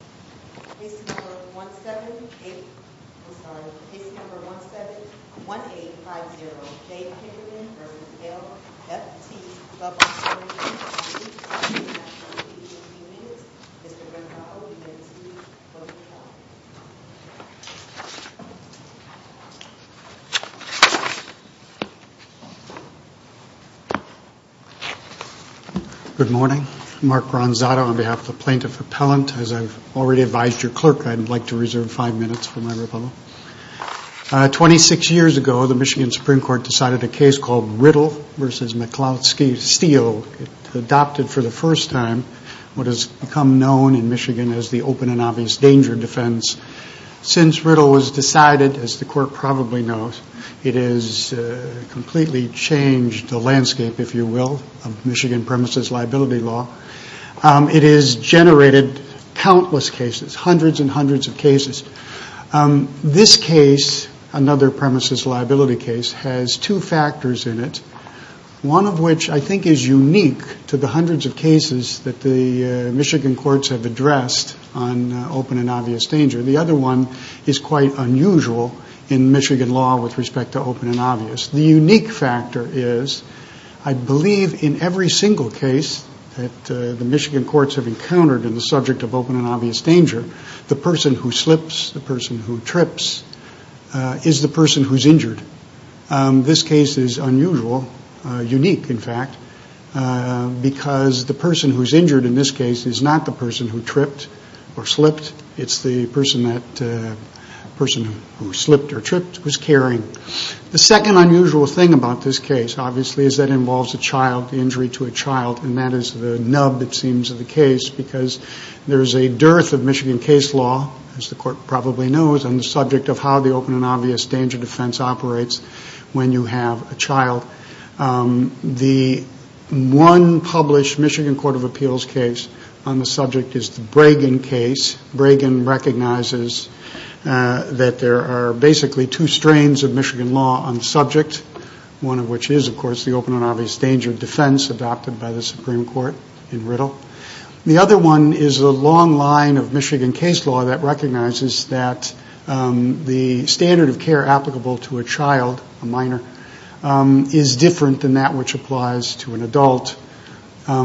Case number 171850, Dave Kindermann v. LFT Club Operations Company Mr. Bernthal, we have two photocopies. Good morning. I'm Mark Ronzato on behalf of the Plaintiff Appellant. As I've already advised your clerk, I'd like to reserve five minutes for my rebuttal. Twenty-six years ago, the Michigan Supreme Court decided a case called Riddle v. McLeod Steel. It adopted for the first time what has become known in Michigan as the open and obvious danger defense. Since Riddle was decided, as the court probably knows, it has completely changed the landscape, if you will, of Michigan premises liability law. It has generated countless cases, hundreds and hundreds of cases. This case, another premises liability case, has two factors in it, one of which I think is unique to the hundreds of cases that the Michigan courts have addressed on open and obvious danger. The other one is quite unusual in Michigan law with respect to open and obvious. The unique factor is I believe in every single case that the Michigan courts have encountered in the subject of open and obvious danger, the person who slips, the person who trips, is the person who's injured. This case is unusual, unique in fact, because the person who's injured in this case is not the person who tripped or slipped. It's the person who slipped or tripped who's carrying. The second unusual thing about this case, obviously, is that it involves a child, the injury to a child, and that is the nub, it seems, of the case because there is a dearth of Michigan case law, as the court probably knows, on the subject of how the open and obvious danger defense operates when you have a child. The one published Michigan Court of Appeals case on the subject is the Bregan case. Bregan recognizes that there are basically two strains of Michigan law on the subject, one of which is, of course, the open and obvious danger defense adopted by the Supreme Court in Riddle. The other one is the long line of Michigan case law that recognizes that the standard of care applicable to a child, a minor, is different than that which applies to an adult. For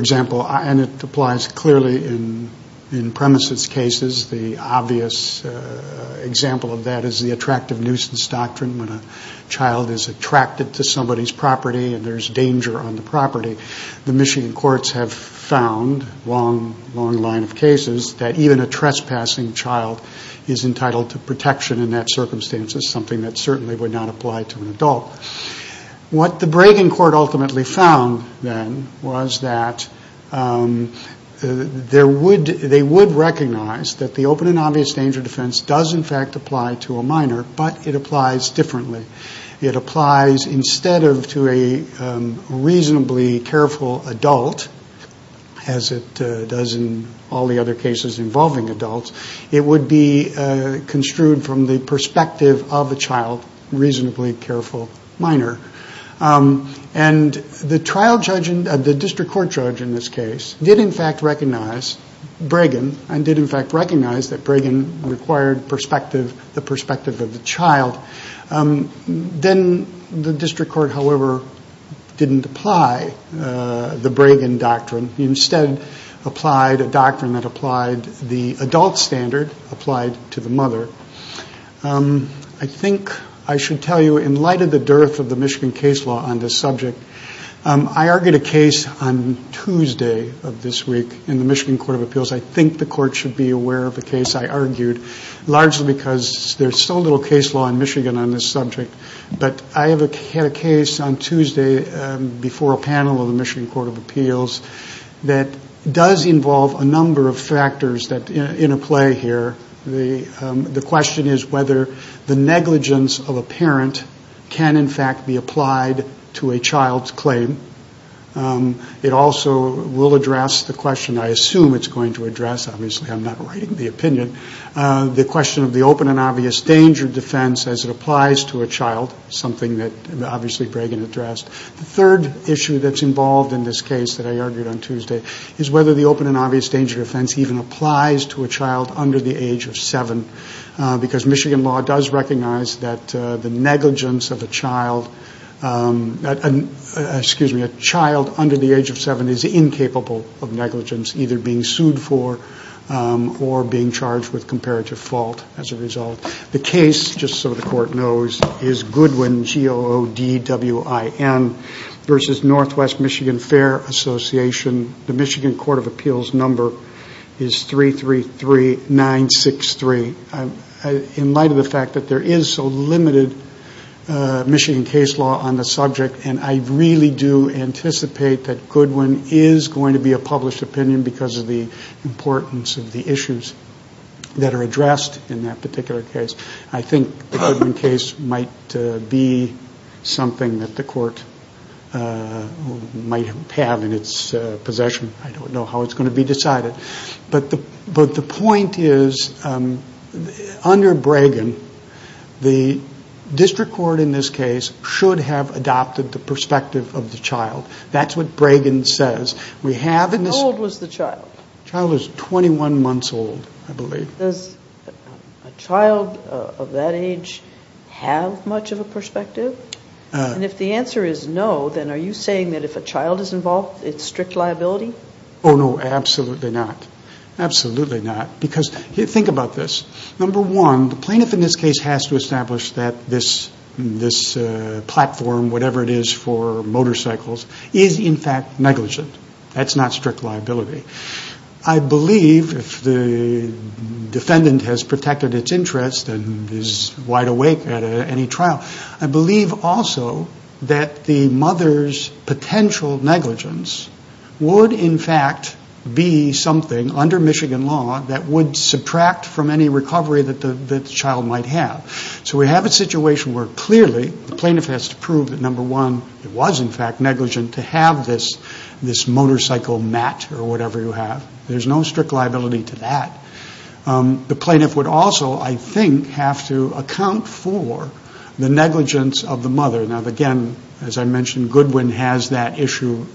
example, and it applies clearly in premises cases, the obvious example of that is the attractive nuisance doctrine. When a child is attracted to somebody's property and there's danger on the property, the Michigan courts have found, long line of cases, that even a trespassing child is entitled to protection in that circumstance. It's something that certainly would not apply to an adult. What the Bregan court ultimately found then was that they would recognize that the open and obvious danger defense does in fact apply to a minor, but it applies differently. It applies instead of to a reasonably careful adult, as it does in all the other cases involving adults, it would be construed from the perspective of a child, reasonably careful minor. The district court judge in this case did in fact recognize Bregan and did in fact recognize that Bregan required the perspective of the child. Then the district court, however, didn't apply the Bregan doctrine. It instead applied a doctrine that applied the adult standard, applied to the mother. I think I should tell you, in light of the dearth of the Michigan case law on this subject, I argued a case on Tuesday of this week in the Michigan Court of Appeals. I think the court should be aware of a case I argued, largely because there's so little case law in Michigan on this subject. I had a case on Tuesday before a panel of the Michigan Court of Appeals that does involve a number of factors in a play here. The question is whether the negligence of a parent can in fact be applied to a child's claim. It also will address the question, I assume it's going to address, obviously I'm not writing the opinion, the question of the open and obvious danger defense as it applies to a child, something that obviously Bregan addressed. The third issue that's involved in this case that I argued on Tuesday is whether the open and obvious danger defense even applies to a child under the age of seven, because Michigan law does recognize that the negligence of a child, excuse me, a child under the age of seven is incapable of negligence, either being sued for or being charged with comparative fault as a result. The case, just so the court knows, is Goodwin, G-O-O-D-W-I-N, versus Northwest Michigan Fair Association. The Michigan Court of Appeals number is 333963. In light of the fact that there is so limited Michigan case law on the subject, and I really do anticipate that Goodwin is going to be a published opinion because of the importance of the issues that are addressed in that particular case, I think the Goodwin case might be something that the court might have in its possession. I don't know how it's going to be decided. But the point is, under Bregan, the district court in this case should have adopted the perspective of the child. That's what Bregan says. Child is 21 months old, I believe. Does a child of that age have much of a perspective? Absolutely not, because think about this. Number one, the plaintiff in this case has to establish that this platform, whatever it is for motorcycles, is in fact negligent. That's not strict liability. I believe, if the defendant has protected its interest and is wide awake at any trial, I believe also that the mother's potential negligence would in fact be something, under Michigan law, that would subtract from any recovery that the child might have. So we have a situation where clearly the plaintiff has to prove that number one, it was in fact negligent to have this motorcycle mat or whatever you have. There's no strict liability to that. The negligence of the mother, now again, as I mentioned, Goodwin has that issue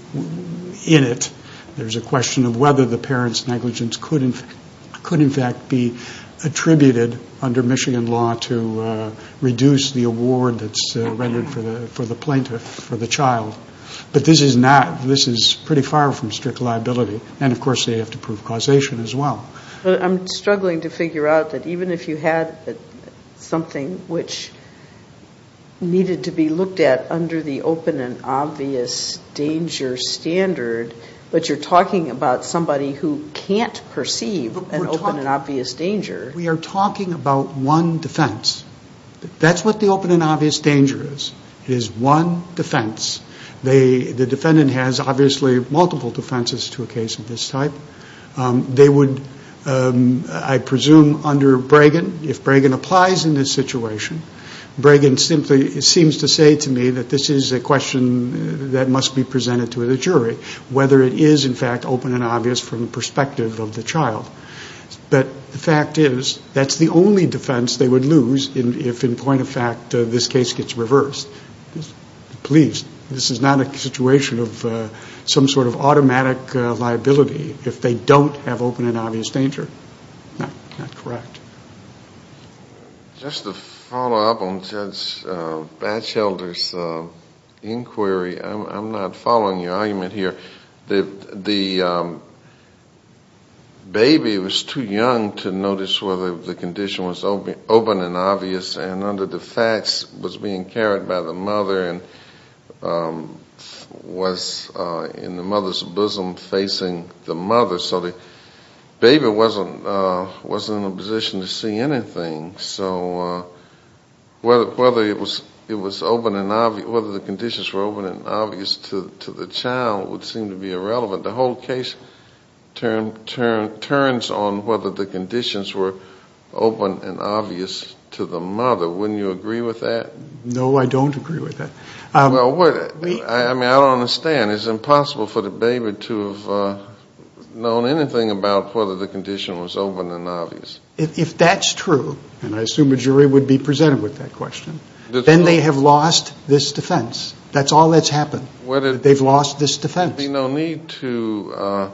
in it. There's a question of whether the parent's negligence could in fact be attributed, under Michigan law, to reduce the award that's rendered for the plaintiff, for the child. But this is pretty far from strict liability. And of course they have to prove causation as well. But I'm struggling to figure out that even if you had something which needed to be looked at under the open and obvious danger standard, but you're talking about somebody who can't perceive an open and obvious danger. We are talking about one defense. That's what the open and obvious danger is. It is one defense. The defendant has obviously multiple defenses to a case of this type. They would, I presume under Bragan, if Bragan applies in this situation, Bragan simply seems to say to me that this is a question that must be presented to the jury, whether it is in fact open and obvious from the perspective of the child. But the fact is that's the only defense they would lose if in point of fact this case gets reversed. Please, this is not a situation of some sort of automatic liability if they don't have open and obvious danger. Not correct. Just to follow up on Judge Batchelder's inquiry, I'm not following your argument here. The baby was too young to notice whether the condition was open and obvious and under the facts was being carried by the mother and was in the mother's bosom facing the mother. So the baby wasn't in a position to see anything. So whether the conditions were open and obvious to the child would seem to be irrelevant. The whole case turns on whether the conditions were open and obvious to the mother. Wouldn't you agree with that? No, I don't agree with that. I mean, I don't understand. It's impossible for the baby to have known anything about whether the condition was open and obvious. If that's true, and I assume a jury would be presented with that question, then they have lost this defense. That's all that's happened. They've lost this defense. There would be no need to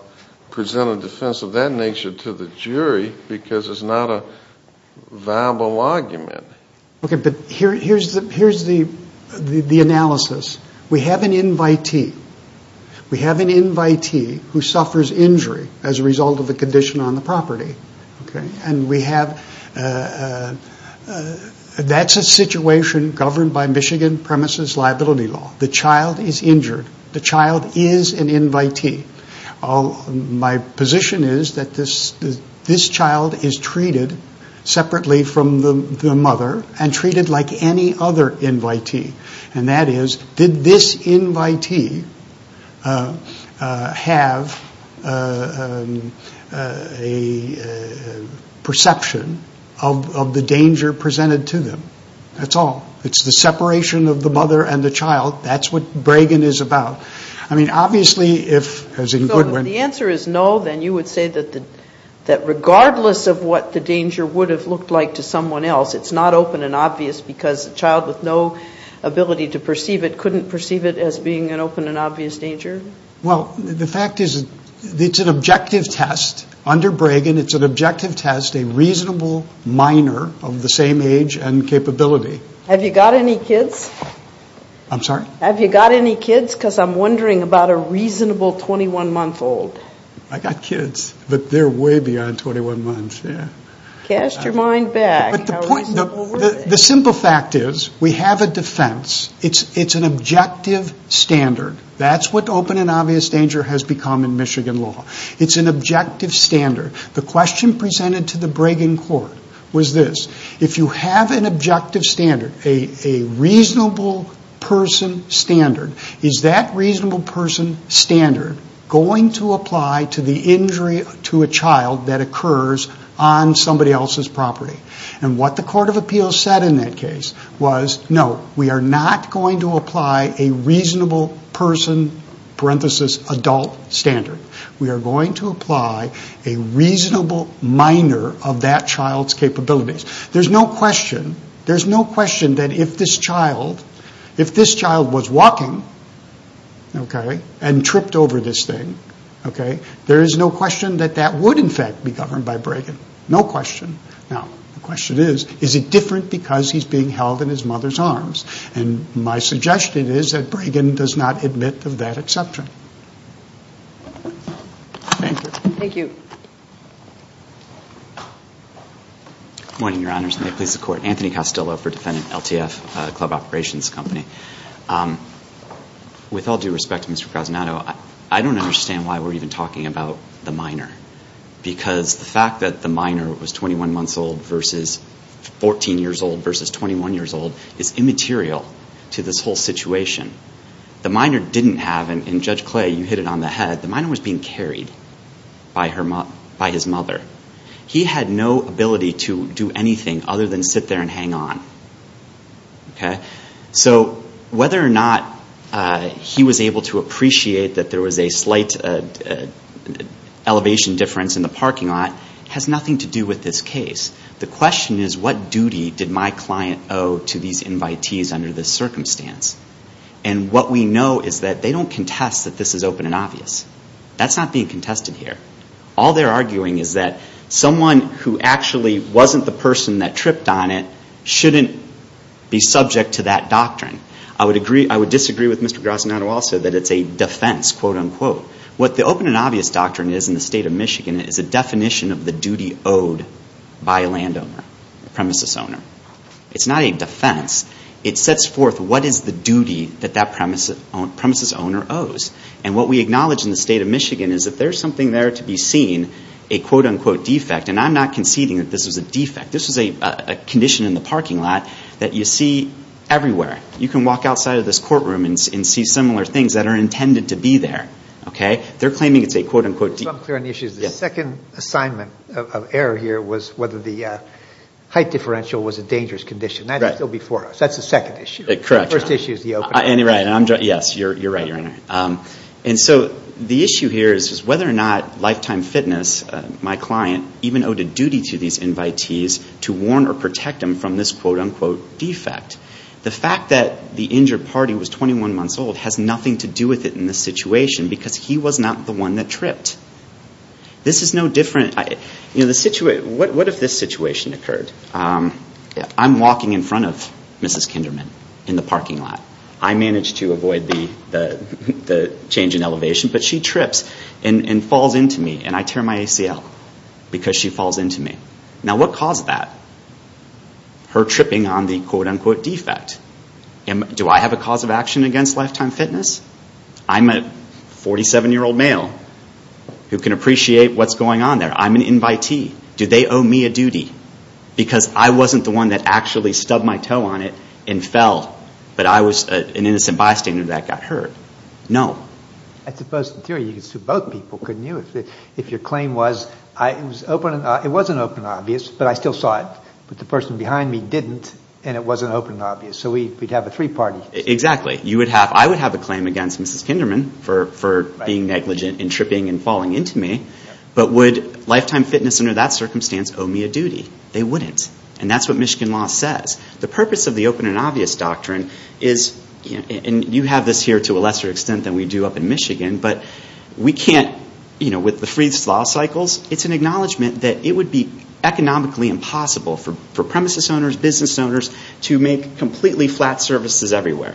present a defense of that nature to the jury because it's not a viable argument. We have an invitee. We have an invitee who suffers injury as a result of a condition on the property. That's a situation governed by Michigan premises liability law. The child is injured. The child is an invitee. My position is that this child is treated separately from the mother and treated like any other invitee. And that is, did this invitee have a perception of the danger presented to them? That's all. It's the separation of the mother and the child. That's what Bregan is about. So if the answer is no, then you would say that regardless of what the danger would have looked like to someone else, it's not open and obvious because a child with no ability to perceive it couldn't perceive it as being an open and obvious danger? Well, the fact is it's an objective test under Bregan. It's an objective test, a reasonable minor of the same age and capability. Have you got any kids? I'm sorry? The simple fact is we have a defense. It's an objective standard. That's what open and obvious danger has become in Michigan law. It's an objective standard. The question presented to the Bregan court was this, if you have an objective standard, a reasonable person standard, is that reasonable person standard going to apply to the injury to a child that occurs on somebody else's property? What the court of appeals said in that case was, no, we are not going to apply a reasonable person, parenthesis, adult standard. We are going to apply a reasonable minor of that child's capabilities. There's no question that if this child was walking and tripped over this thing, there is no question that that would, in fact, be governed by Bregan. No question. Now, the question is, is it different because he's being held in his mother's arms? And my suggestion is that Bregan does not admit of that exception. Thank you. Good morning, Your Honors, and may it please the Court. Anthony Castillo for defendant, LTF, Club Operations Company. With all due respect to Mr. Casanato, I don't understand why we're even talking about the minor. Because the fact that the minor was 21 months old versus 14 years old versus 21 years old is immaterial to this whole situation. The minor didn't have, and Judge Clay, you hit it on the head, the minor was being carried by his mother. He had no ability to do anything other than sit there and hang on. So whether or not he was able to appreciate that there was a slight elevation difference in the parking lot has nothing to do with this case. The question is, what duty did my client owe to these invitees under this circumstance? And what we know is that they don't contest that this is open and obvious. That's not being contested here. All they're arguing is that someone who actually wasn't the person that tripped on it shouldn't be subject to that doctrine. I would disagree with Mr. Casanato also that it's a defense, quote, unquote. What the open and obvious doctrine is in the State of Michigan is a definition of the duty owed by a landowner, a premises owner. It's not a defense. It sets forth what is the duty that that premises owner owes. And what we acknowledge in the State of Michigan is that there's something there to be seen, a quote, unquote defect. And I'm not conceding that this is a defect. This is a condition in the parking lot that you see everywhere. You can walk outside of this courtroom and see similar things that are intended to be there. They're claiming it's a quote, unquote defect. The second assignment of error here was whether the height differential was a dangerous condition. That is still before us. That's the second issue. The first issue is the open. And so the issue here is whether or not Lifetime Fitness, my client, even owed a duty to these invitees to warn or protect them from this quote, unquote defect. The fact that the injured party was 21 months old has nothing to do with it in this situation because he was not the one that tripped. This is no different. What if this situation occurred? I'm walking in front of Mrs. Kinderman in the parking lot. I managed to avoid the change in elevation, but she trips and falls into me and I tear my ACL because she falls into me. Now what caused that? Her tripping on the quote, unquote defect. Do I have a cause of action against Lifetime Fitness? I'm a 47-year-old male who can appreciate what's going on there. I'm an invitee. Do they owe me a duty? Because I wasn't the one that actually stubbed my toe on it and fell, but I was an innocent bystander that got hurt. No. I suppose in theory you could sue both people, couldn't you, if your claim was it wasn't open and obvious, but I still saw it. But the person behind me didn't and it wasn't open and obvious. So we'd have a three-party. Exactly. I would have a claim against Mrs. Kinderman for being negligent and tripping and falling into me, but would Lifetime Fitness under that circumstance owe me a duty? They wouldn't. And that's what Michigan law says. The purpose of the open and obvious doctrine is, and you have this here to a lesser extent than we do up in Michigan, but we can't, with the free law cycles, it's an acknowledgement that it would be economically impossible for premises owners, business owners to make completely flat services everywhere.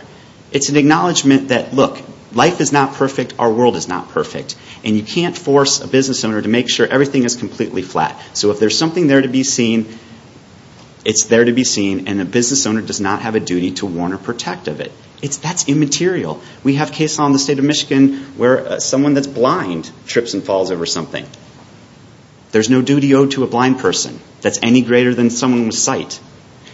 It's an acknowledgement that, look, life is not perfect, our world is not perfect, and you can't force a business owner to make sure everything is completely flat. So if there's something there to be seen, it's there to be seen, and a business owner does not have a duty to warn or protect of it. That's immaterial. We have case law in the state of Michigan where someone that's blind trips and falls over something. There's no duty owed to a blind person that's any greater than someone with sight.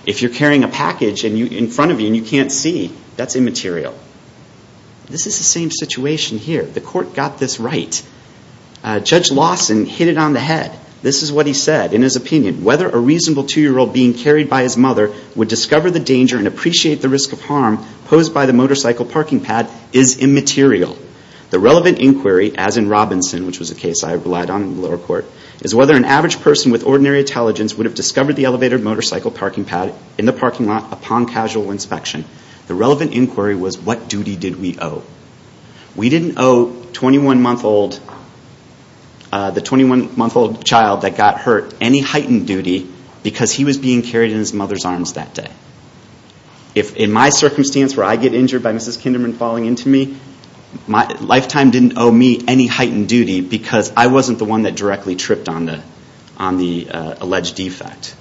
If you're carrying a package in front of you and you can't see, that's immaterial. This is the same situation here. The court got this right. Judge Lawson hit it on the head. This is what he said. In his opinion, whether a reasonable two-year-old being carried by his mother would discover the danger and appreciate the risk of harm posed by the motorcycle parking pad is immaterial. The relevant inquiry, as in Robinson, which was a case I relied on in the lower court, is whether an average person with ordinary intelligence would have discovered the elevated motorcycle parking pad in the parking lot upon casual inspection. The relevant inquiry was what duty did we owe? We didn't owe the 21-month-old child that got hurt any heightened duty because he was being carried in his mother's arms that day. In my circumstance where I get injured by Mrs. Kinderman falling into me, Lifetime didn't owe me any heightened duty because I wasn't the one that directly tripped on the alleged defect.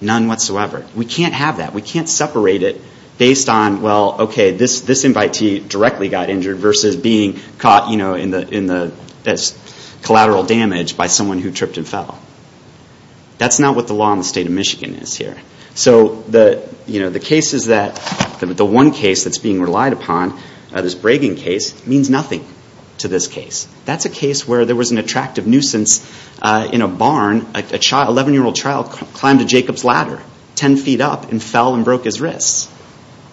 None whatsoever. We can't have that. We can't separate it based on, well, okay, this invitee directly got injured versus being caught in the collateral damage by someone who tripped and fell. That's not what the law in the state of Michigan is here. The one case that's being relied upon, this Bragging case, means nothing to this case. That's a case where there was an attractive nuisance in a barn. An 11-year-old child climbed a Jacob's ladder 10 feet up and fell and broke his wrists.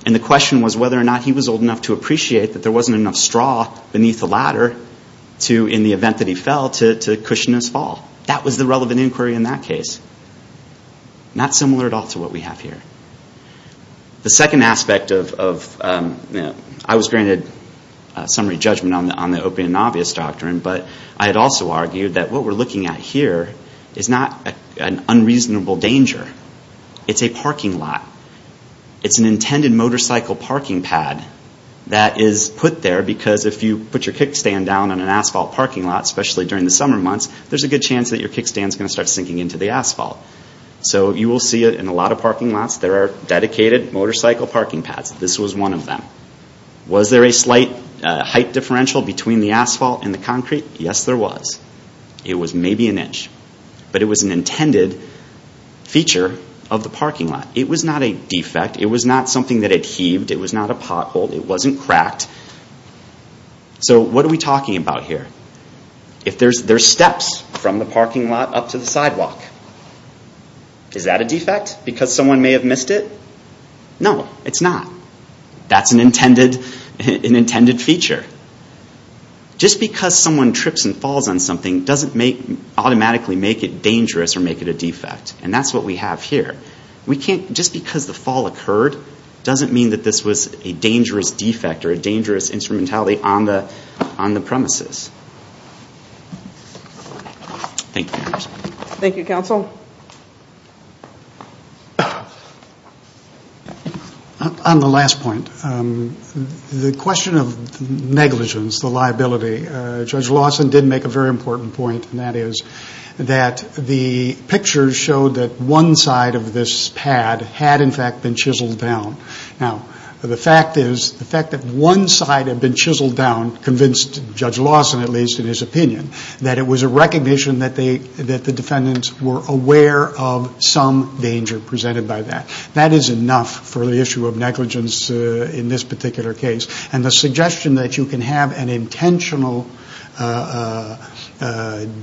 And the question was whether or not he was old enough to appreciate that there wasn't enough straw beneath the ladder in the event that he fell to cushion his fall. That was the relevant inquiry in that case. Not similar at all to what we have here. The second aspect of, I was granted summary judgment on the open and obvious doctrine, but I had also argued that what we're looking at here is not an unreasonable danger. It's a parking lot. It's an intended motorcycle parking pad that is put there because if you put your kickstand down on an asphalt parking lot, especially during the summer months, there's a good chance that your kickstand's going to start sinking into the asphalt. You will see it in a lot of parking lots. There are dedicated motorcycle parking pads. This was one of them. Was there a slight height differential between the asphalt and the concrete? Yes, there was. It was maybe an inch, but it was an intended feature of the parking lot. It was not a defect. It was not something that had heaved. It was not a pothole. It wasn't cracked. So what are we talking about here? If there's steps from the parking lot up to the sidewalk, is that a defect because someone may have missed it? No, it's not. That's an intended feature. Just because someone trips and falls on something doesn't automatically make it dangerous or make it a defect. That's what we have here. Thank you, Counsel. On the last point, the question of negligence, the liability, Judge Lawson did make a very important point. The pictures showed that one side of this pad had in fact been chiseled down. The fact that one side had been chiseled down convinced Judge Lawson, at least in his opinion, that it was a recognition that the defendants were aware of some danger presented by that. That is enough for the issue of negligence in this particular case. The suggestion that you can have an intentional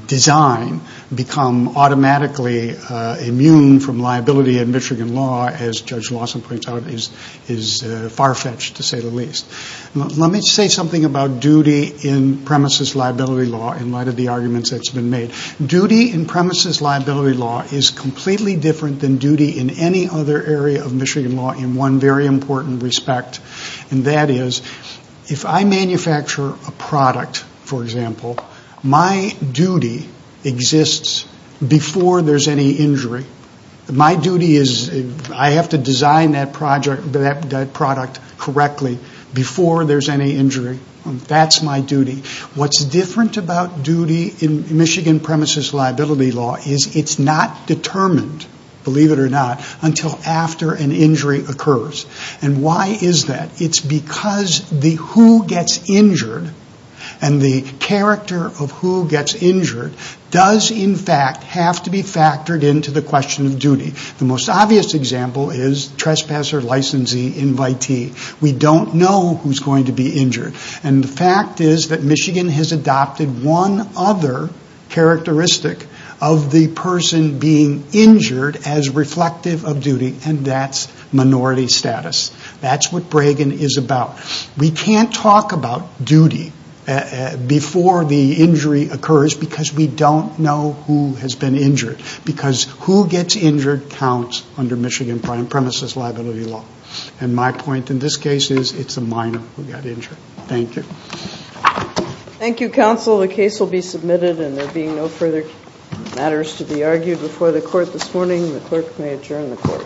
design become automatically immune from liability in Michigan law, as Judge Lawson points out, is far-fetched to say the least. Let me say something about duty in premises liability law in light of the arguments that's been made. Duty in premises liability law is completely different than duty in any other area of Michigan law in one very important respect. That is, if I manufacture a product, for example, my duty exists before there's any injury. My duty is I have to design that product correctly before there's any injury. That's my duty. What's different about duty in Michigan premises liability law is it's not determined, believe it or not, until after an injury occurs. Why is that? It's because the who gets injured and the character of who gets injured does, in fact, have to be factored into the question of duty. The most obvious example is trespasser, licensee, invitee. We don't know who's going to be injured. And the fact is that Michigan has adopted one other characteristic of the person being injured as reflective of duty, and that's minority status. That's what Bragan is about. We can't talk about duty before the injury occurs because we don't know who has been injured. Because who gets injured counts under Michigan premises liability law. Thank you, counsel. The case will be submitted and there being no further matters to be argued before the court this morning, the clerk may adjourn the court.